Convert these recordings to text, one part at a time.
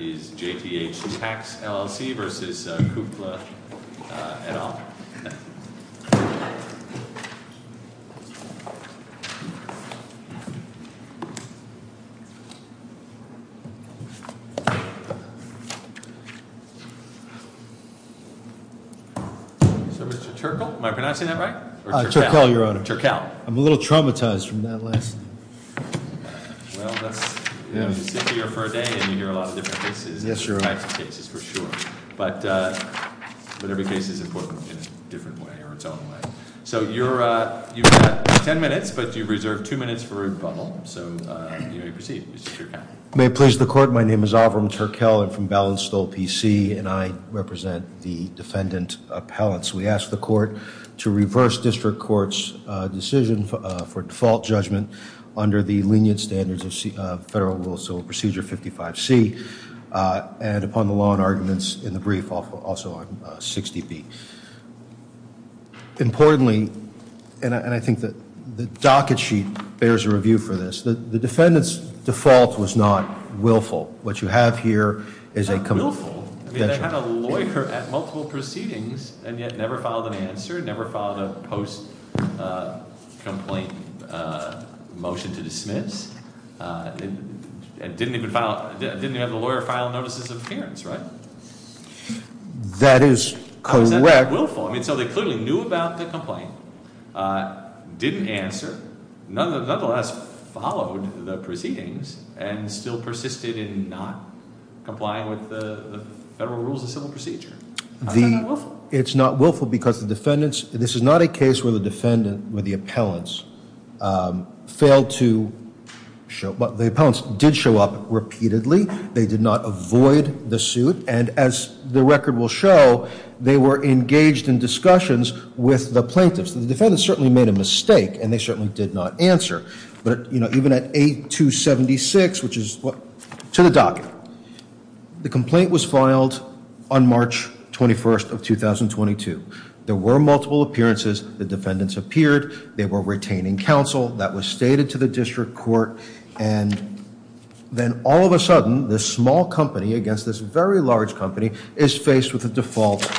et al. So, Mr. Terkel, am I pronouncing that right? Terkel, Your Honor. Terkel. I'm a little traumatized from that last. Well, that's, you know, you sit here for a day and you hear a lot of different cases. Yes, Your Honor. Types of cases, for sure. But every case is important in a different way, or its own way. So, you've got ten minutes, but you've reserved two minutes for rebuttal. So, you may proceed. May it please the Court, my name is Alvaron Terkel. I'm from Ballinstall PC, and I represent the defendant appellants. We ask the Court to reverse District Court's decision for default judgment under the lenient standards of federal rules, so Procedure 55C, and upon the law and arguments in the brief, also on 60B. Importantly, and I think that the docket sheet bears a review for this, the defendant's default was not willful. What you have here is a. Willful? They had a lawyer at multiple proceedings and yet never filed an answer, never filed a post-complaint motion to dismiss. And didn't even have the lawyer file notices of appearance, right? That is correct. How is that not willful? I mean, so they clearly knew about the complaint, didn't answer. Nonetheless, followed the proceedings and still persisted in not complying with the federal rules of civil procedure. How is that not willful? It's not willful because the defendants, this is not a case where the defendant, where the appellants, failed to show, the appellants did show up repeatedly. They did not avoid the suit. And as the record will show, they were engaged in discussions with the plaintiffs. The defendants certainly made a mistake and they certainly did not answer. But even at 8-276, which is to the docket, the complaint was filed on March 21st of 2022. There were multiple appearances. The defendants appeared. They were retaining counsel. That was stated to the district court. And then all of a sudden, this small company against this very large company is faced with a default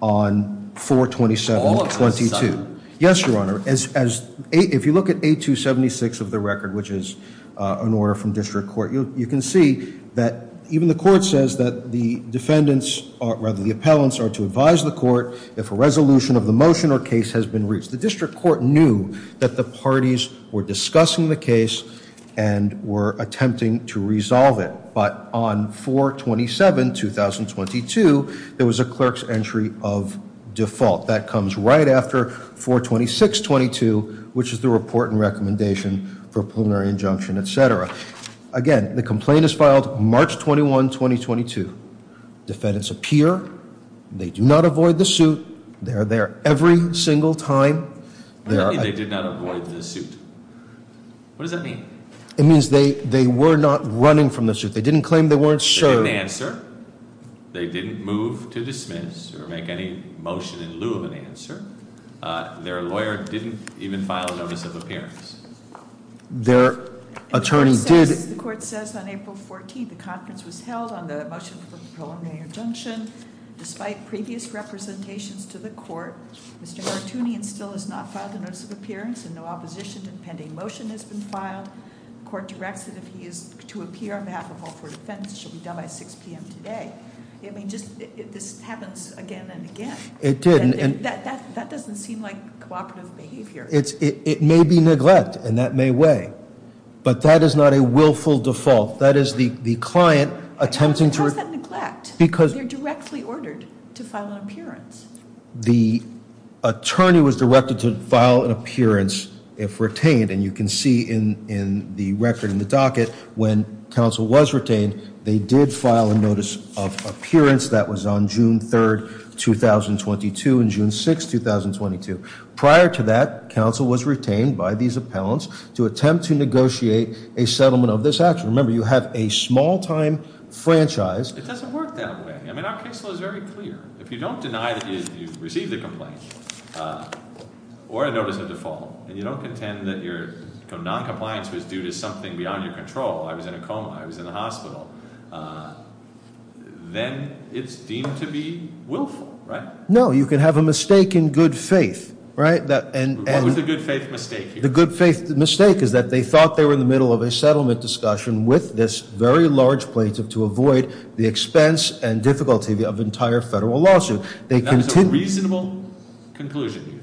on 4-27-22. Yes, Your Honor. If you look at 8-276 of the record, which is an order from district court, you can see that even the court says that the defendants, or rather the appellants, are to advise the court if a resolution of the motion or case has been reached. The district court knew that the parties were discussing the case and were attempting to resolve it. But on 4-27-2022, there was a clerk's entry of default. That comes right after 4-26-22, which is the report and recommendation for preliminary injunction, et cetera. Again, the complaint is filed March 21, 2022. Defendants appear. They do not avoid the suit. They are there every single time. What does that mean, they did not avoid the suit? What does that mean? It means they were not running from the suit. They didn't claim they weren't served. They didn't answer. They didn't make any questions or make any motion in lieu of an answer. Their lawyer didn't even file a notice of appearance. Their attorney did. The court says on April 14, the conference was held on the motion for the preliminary injunction. Despite previous representations to the court, Mr. Gartunian still has not filed a notice of appearance, and no opposition to the pending motion has been filed. The court directs that if he is to appear on behalf of all four defendants, it should be done by 6 p.m. today. This happens again and again. It did. That doesn't seem like cooperative behavior. It may be neglect, and that may weigh, but that is not a willful default. That is the client attempting to— How is that neglect? Because— They're directly ordered to file an appearance. The attorney was directed to file an appearance if retained, and you can see in the record in the docket when counsel was retained, they did file a notice of appearance. That was on June 3, 2022 and June 6, 2022. Prior to that, counsel was retained by these appellants to attempt to negotiate a settlement of this action. Remember, you have a small-time franchise. It doesn't work that way. I mean, our case law is very clear. If you don't deny that you received a complaint or a notice of default, and you don't contend that your noncompliance was due to something beyond your control, I was in a coma, I was in the hospital, then it's deemed to be willful, right? No, you can have a mistake in good faith, right? What was the good faith mistake here? The good faith mistake is that they thought they were in the middle of a settlement discussion with this very large plaintiff to avoid the expense and difficulty of the entire federal lawsuit. That was a reasonable conclusion, you think?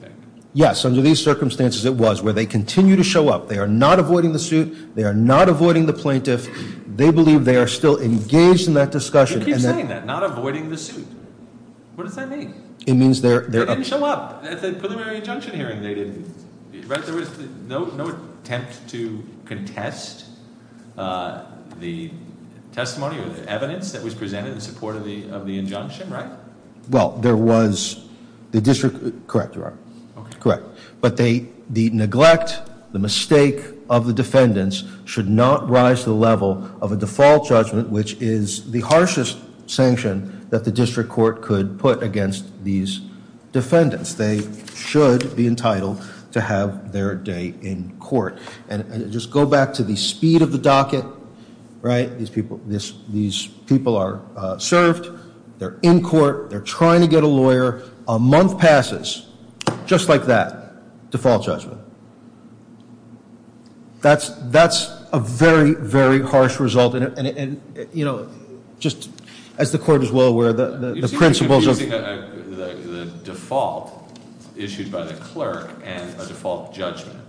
Yes, under these circumstances it was, where they continue to show up. They are not avoiding the suit. They are not avoiding the plaintiff. They believe they are still engaged in that discussion. You keep saying that, not avoiding the suit. What does that mean? It means they're- They didn't show up at the preliminary injunction hearing, they didn't. There was no attempt to contest the testimony or the evidence that was presented in support of the injunction, right? Well, there was- the district- correct, Your Honor. Okay. Correct. But the neglect, the mistake of the defendants should not rise to the level of a default judgment, which is the harshest sanction that the district court could put against these defendants. They should be entitled to have their day in court. And just go back to the speed of the docket, right? These people are served. They're in court. They're trying to get a lawyer. A month passes, just like that, default judgment. That's a very, very harsh result. And, you know, just as the court is well aware, the principles of- Issued by the clerk and a default judgment.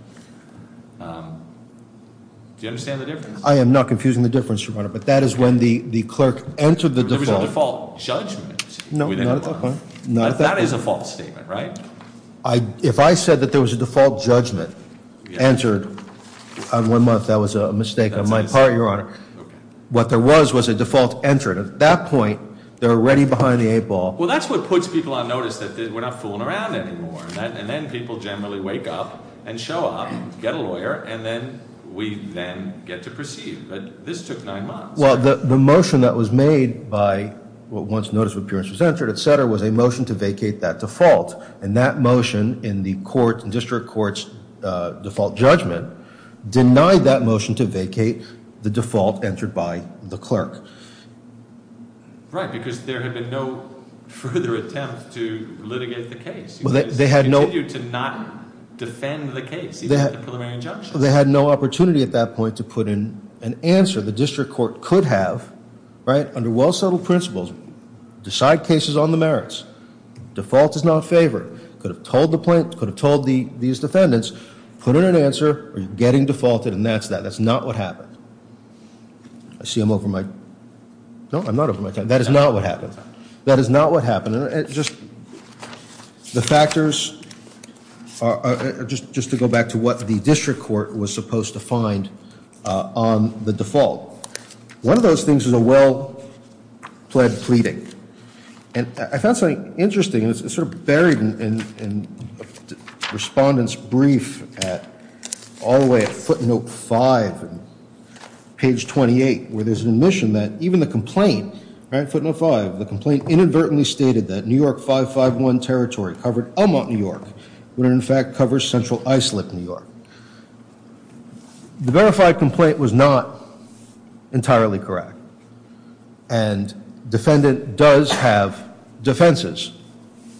Do you understand the difference? I am not confusing the difference, Your Honor, but that is when the clerk entered the default- There was a default judgment within a month. No, not at that point. That is a false statement, right? If I said that there was a default judgment entered on one month, that was a mistake on my part, Your Honor. Okay. What there was was a default entered. At that point, they're already behind the eight ball. Well, that's what puts people on notice that we're not fooling around anymore. And then people generally wake up and show up, get a lawyer, and then we then get to proceed. But this took nine months. Well, the motion that was made by what was noticed when appearance was entered, et cetera, was a motion to vacate that default. And that motion in the district court's default judgment denied that motion to vacate the default entered by the clerk. Right, because there had been no further attempt to litigate the case. They had no- They continued to not defend the case, even at the preliminary injunction. They had no opportunity at that point to put in an answer. The district court could have, right, under well-settled principles, decide cases on the merits. Default is not favored. Could have told these defendants, put in an answer, you're getting defaulted, and that's that. That's not what happened. I see I'm over my- No, I'm not over my time. That is not what happened. That is not what happened. And it just- The factors are- Just to go back to what the district court was supposed to find on the default. One of those things is a well-pled pleading. And I found something interesting. It's sort of buried in a respondent's brief all the way at footnote 5, page 28, where there's an admission that even the complaint- Right, footnote 5. The complaint inadvertently stated that New York 551 territory covered Elmont, New York, when it in fact covers Central Islip, New York. The verified complaint was not entirely correct. And defendant does have defenses.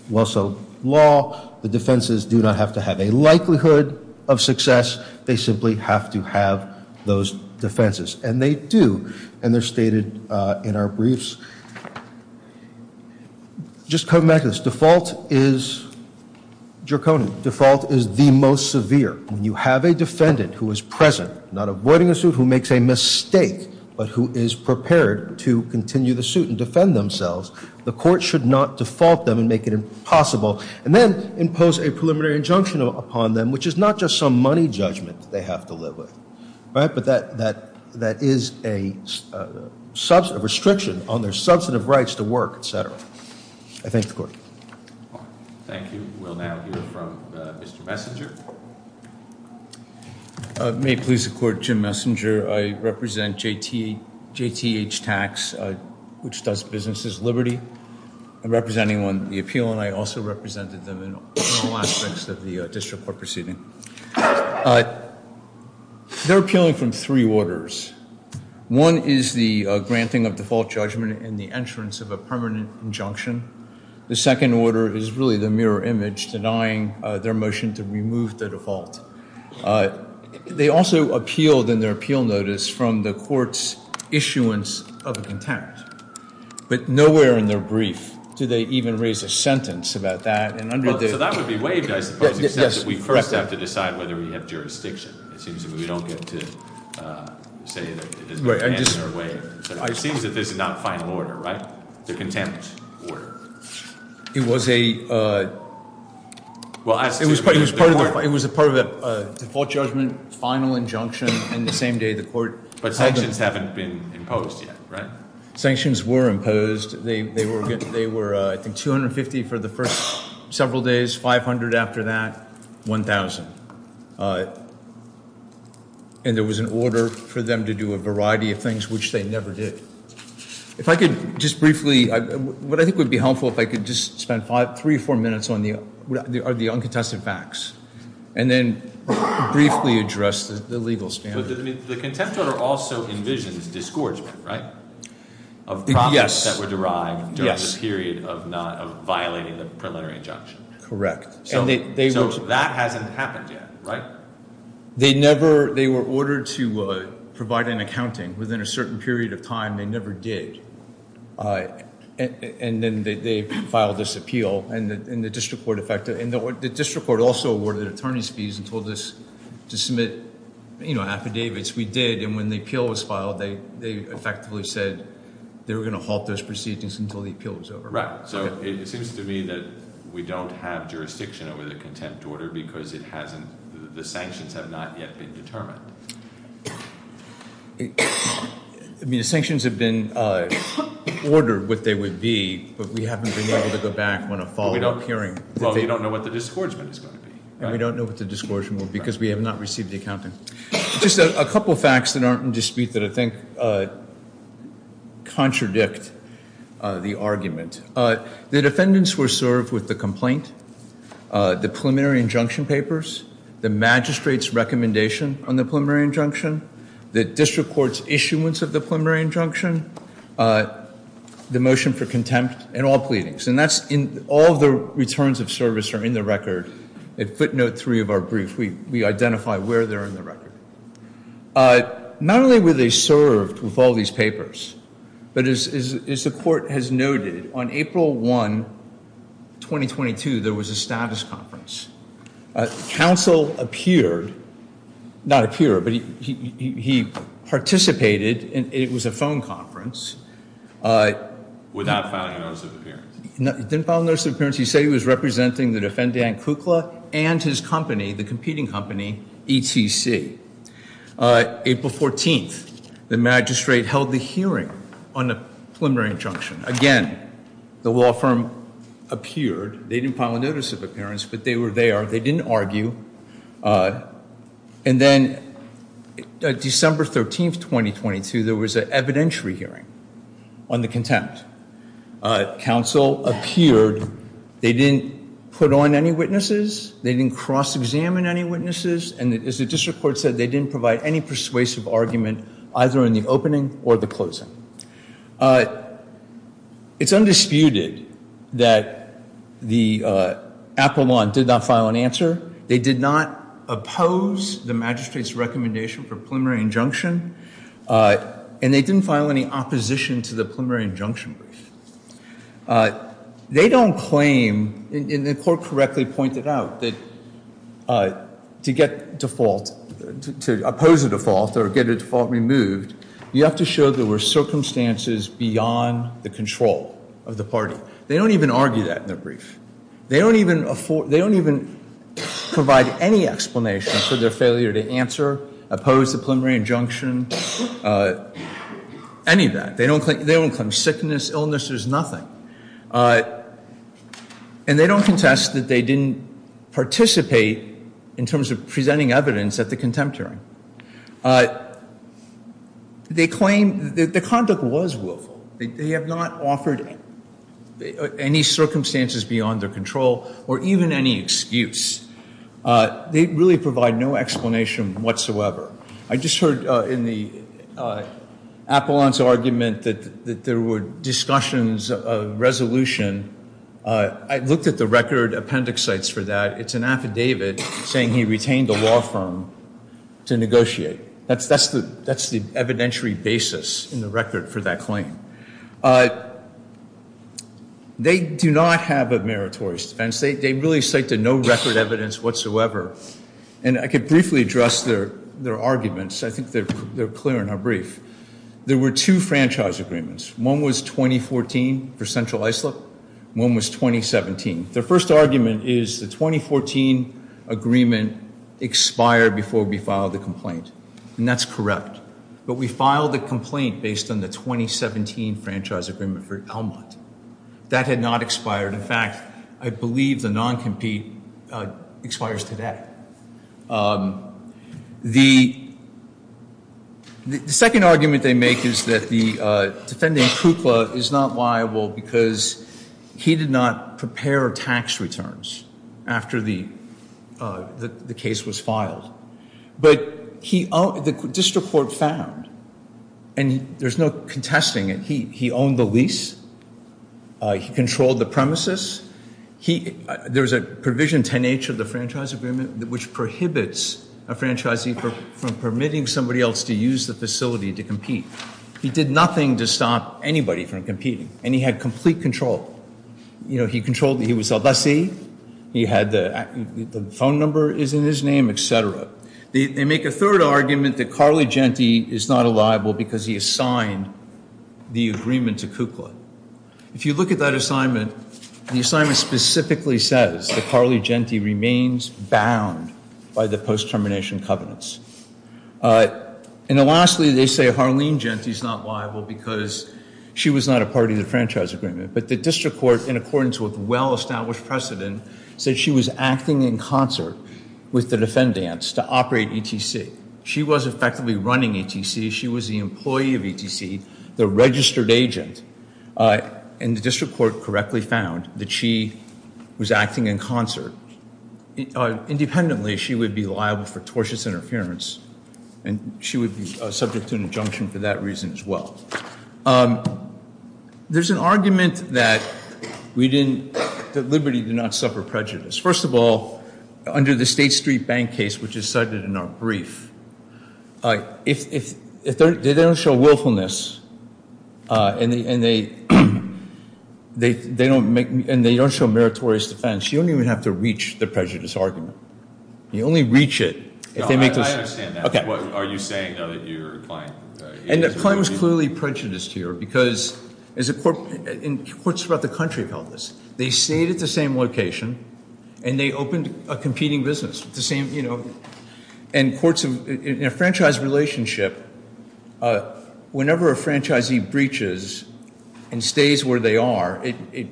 Well, so, law, the defenses do not have to have a likelihood of success. They simply have to have those defenses. And they do. And they're stated in our briefs. Just come back to this. Default is draconian. Default is the most severe. When you have a defendant who is present, not avoiding a suit, who makes a mistake, but who is prepared to continue the suit and defend themselves, the court should not default them and make it impossible. And then impose a preliminary injunction upon them, which is not just some money judgment they have to live with. But that is a restriction on their substantive rights to work, etc. I thank the court. Thank you. We'll now hear from Mr. Messenger. May it please the court, Jim Messenger. I represent JTH Tax, which does businesses liberty. I'm representing on the appeal, and I also represented them in all aspects of the district court proceeding. They're appealing from three orders. One is the granting of default judgment and the entrance of a permanent injunction. The second order is really the mirror image denying their motion to remove the default. They also appealed in their appeal notice from the court's issuance of a contempt. But nowhere in their brief do they even raise a sentence about that. So that would be waived, I suppose, except that we first have to decide whether we have jurisdiction. It seems that we don't get to say that it has been granted or waived. It seems that this is not final order, right? It's a contempt order. It was a part of a default judgment, final injunction, and the same day the court held them. But sanctions haven't been imposed yet, right? Sanctions were imposed. They were, I think, $250 for the first several days, $500 after that, $1,000. And there was an order for them to do a variety of things, which they never did. If I could just briefly, what I think would be helpful if I could just spend three or four minutes on the uncontested facts and then briefly address the legal standard. The contempt order also envisions disgorgement, right, of profits that were derived during the period of violating the preliminary injunction. Correct. So that hasn't happened yet, right? They were ordered to provide an accounting. Within a certain period of time, they never did. And then they filed this appeal, and the district court also awarded attorneys fees and told us to submit affidavits. We did, and when the appeal was filed, they effectively said they were going to halt those proceedings until the appeal was over. Right, so it seems to me that we don't have jurisdiction over the contempt order because it hasn't, the sanctions have not yet been determined. I mean, the sanctions have been ordered what they would be, but we haven't been able to go back when a follow-up hearing. Well, we don't know what the disgorgement is going to be. And we don't know what the disgorgement will be because we have not received the accounting. Just a couple facts that aren't in dispute that I think contradict the argument. The defendants were served with the complaint, the preliminary injunction papers, the magistrate's recommendation on the preliminary injunction, the district court's issuance of the preliminary injunction, the motion for contempt, and all pleadings. All the returns of service are in the record. Footnote three of our brief, we identify where they're in the record. Not only were they served with all these papers, but as the court has noted, on April 1, 2022, there was a status conference. Counsel appeared, not appear, but he participated, and it was a phone conference. Without filing a notice of appearance. He didn't file a notice of appearance. He said he was representing the defendant, Kukla, and his company, the competing company, ETC. April 14, the magistrate held the hearing on the preliminary injunction. Again, the law firm appeared. They didn't file a notice of appearance, but they were there. They didn't argue. And then December 13, 2022, there was an evidentiary hearing on the contempt. Counsel appeared. They didn't put on any witnesses. They didn't cross-examine any witnesses. And as the district court said, they didn't provide any persuasive argument, either in the opening or the closing. It's undisputed that the Apple law did not file an answer. They did not oppose the magistrate's recommendation for preliminary injunction. And they didn't file any opposition to the preliminary injunction brief. They don't claim, and the court correctly pointed out, that to get default, to oppose a default or get a default removed, you have to show there were circumstances beyond the control of the party. They don't even argue that in their brief. They don't even provide any explanation for their failure to answer, oppose the preliminary injunction, any of that. They don't claim sickness, illness, there's nothing. And they don't contest that they didn't participate in terms of presenting evidence at the contempt hearing. They claim that the conduct was willful. They have not offered any circumstances beyond their control or even any excuse. They really provide no explanation whatsoever. I just heard in the Appellant's argument that there were discussions of resolution. I looked at the record appendix sites for that. It's an affidavit saying he retained the law firm to negotiate. That's the evidentiary basis in the record for that claim. They do not have a meritorious defense. They really cite no record evidence whatsoever. And I could briefly address their arguments. I think they're clear in our brief. There were two franchise agreements. One was 2014 for Central Islip. One was 2017. Their first argument is the 2014 agreement expired before we filed the complaint. And that's correct. But we filed a complaint based on the 2017 franchise agreement for Elmont. That had not expired. In fact, I believe the non-compete expires today. The second argument they make is that the defendant, Kukla, is not liable because he did not prepare tax returns after the case was filed. But the district court found, and there's no contesting it, he owned the lease. He controlled the premises. There's a provision 10-H of the franchise agreement, which prohibits a franchisee from permitting somebody else to use the facility to compete. He did nothing to stop anybody from competing. And he had complete control. He was a lessee. The phone number is in his name, et cetera. They make a third argument that Carly Genti is not liable because he assigned the agreement to Kukla. If you look at that assignment, the assignment specifically says that Carly Genti remains bound by the post-termination covenants. And lastly, they say Harleen Genti is not liable because she was not a part of the franchise agreement. But the district court, in accordance with well-established precedent, said she was acting in concert with the defendants to operate ETC. She was effectively running ETC. She was the employee of ETC, the registered agent. And the district court correctly found that she was acting in concert. Independently, she would be liable for tortious interference, and she would be subject to an injunction for that reason as well. There's an argument that Liberty did not suffer prejudice. First of all, under the State Street Bank case, which is cited in our brief, if they don't show willfulness and they don't show meritorious defense, you don't even have to reach the prejudice argument. You only reach it if they make those- I understand that. What are you saying now that your client- And the claim is clearly prejudiced here because courts throughout the country have held this. They stayed at the same location, and they opened a competing business. In a franchise relationship, whenever a franchisee breaches and stays where they are, it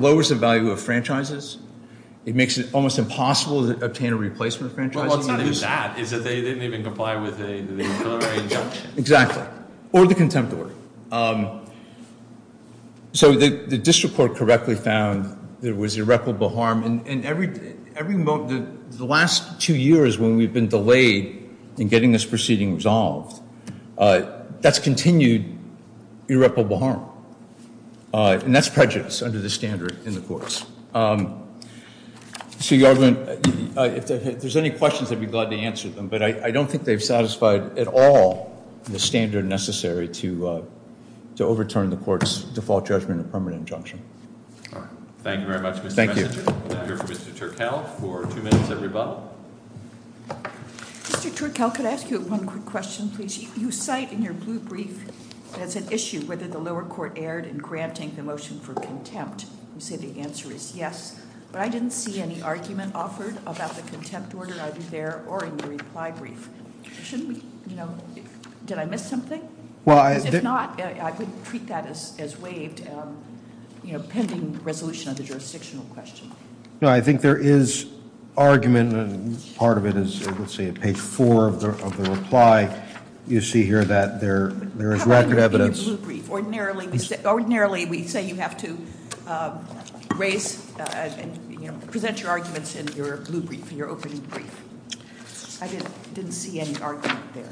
lowers the value of franchises. It makes it almost impossible to obtain a replacement franchise. Well, it's not even that. It's that they didn't even comply with the preliminary injunction. Exactly. Or the contempt order. So the district court correctly found there was irreparable harm, and the last two years when we've been delayed in getting this proceeding resolved, that's continued irreparable harm. And that's prejudice under the standard in the courts. So, Your Honor, if there's any questions, I'd be glad to answer them, but I don't think they've satisfied at all the standard necessary to overturn the court's default judgment or permanent injunction. Thank you very much, Mr. Messenger. Thank you. We'll now hear from Mr. Turkel for two minutes of rebuttal. Mr. Turkel, could I ask you one quick question, please? You cite in your blue brief as an issue whether the lower court erred in granting the motion for contempt. You say the answer is yes, but I didn't see any argument offered about the contempt order, either there or in your reply brief. Did I miss something? If not, I would treat that as waived pending resolution of the jurisdictional question. No, I think there is argument, and part of it is, let's see, at page four of the reply, you see here that there is record evidence. Ordinarily, we say you have to present your arguments in your blue brief, in your opening brief. I didn't see any argument there.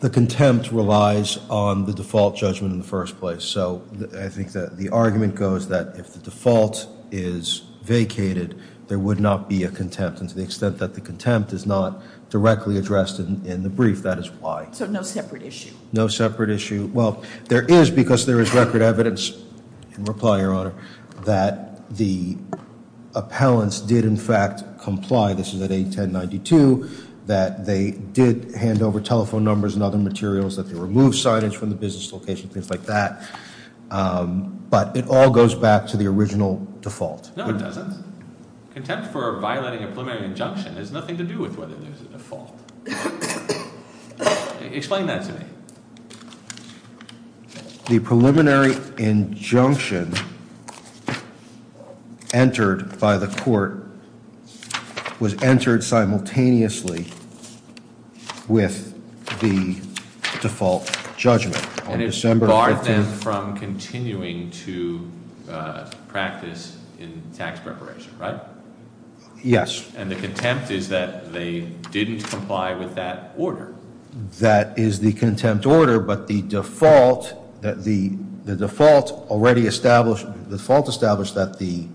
The contempt relies on the default judgment in the first place, so I think the argument goes that if the default is vacated, there would not be a contempt, and to the extent that the contempt is not directly addressed in the brief, that is why. So no separate issue? No separate issue. Well, there is, because there is record evidence in reply, Your Honor, that the appellants did in fact comply. This is at 810.92, that they did hand over telephone numbers and other materials, that they removed signage from the business location, things like that. But it all goes back to the original default. No, it doesn't. Contempt for violating a preliminary injunction has nothing to do with whether there is a default. Explain that to me. The preliminary injunction entered by the court was entered simultaneously with the default judgment. And it barred them from continuing to practice in tax preparation, right? Yes. And the contempt is that they didn't comply with that order. That is the contempt order, but the default already established, the default established that the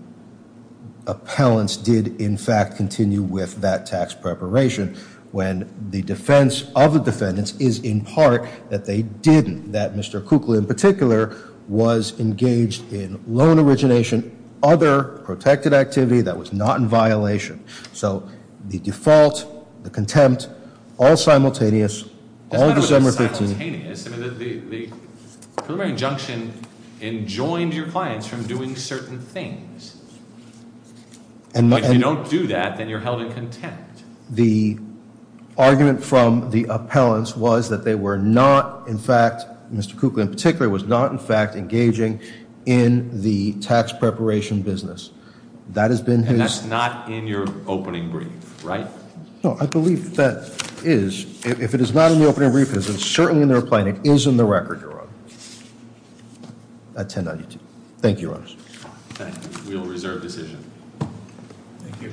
appellants did in fact continue with that tax preparation when the defense of the defendants is in part that they didn't, that Mr. Kukla in particular was engaged in loan origination, other protected activity that was not in violation. So the default, the contempt, all simultaneous, all December 13th. The preliminary injunction enjoined your clients from doing certain things. But if you don't do that, then you're held in contempt. The argument from the appellants was that they were not in fact, Mr. Kukla in particular, was not in fact engaging in the tax preparation business. That has been his- And that's not in your opening brief, right? No, I believe that is. If it is not in the opening brief, it is certainly in their plan. It is in the record, Your Honor. At 1092. Thank you, Your Honor. Thank you. We will reserve decision. Thank you.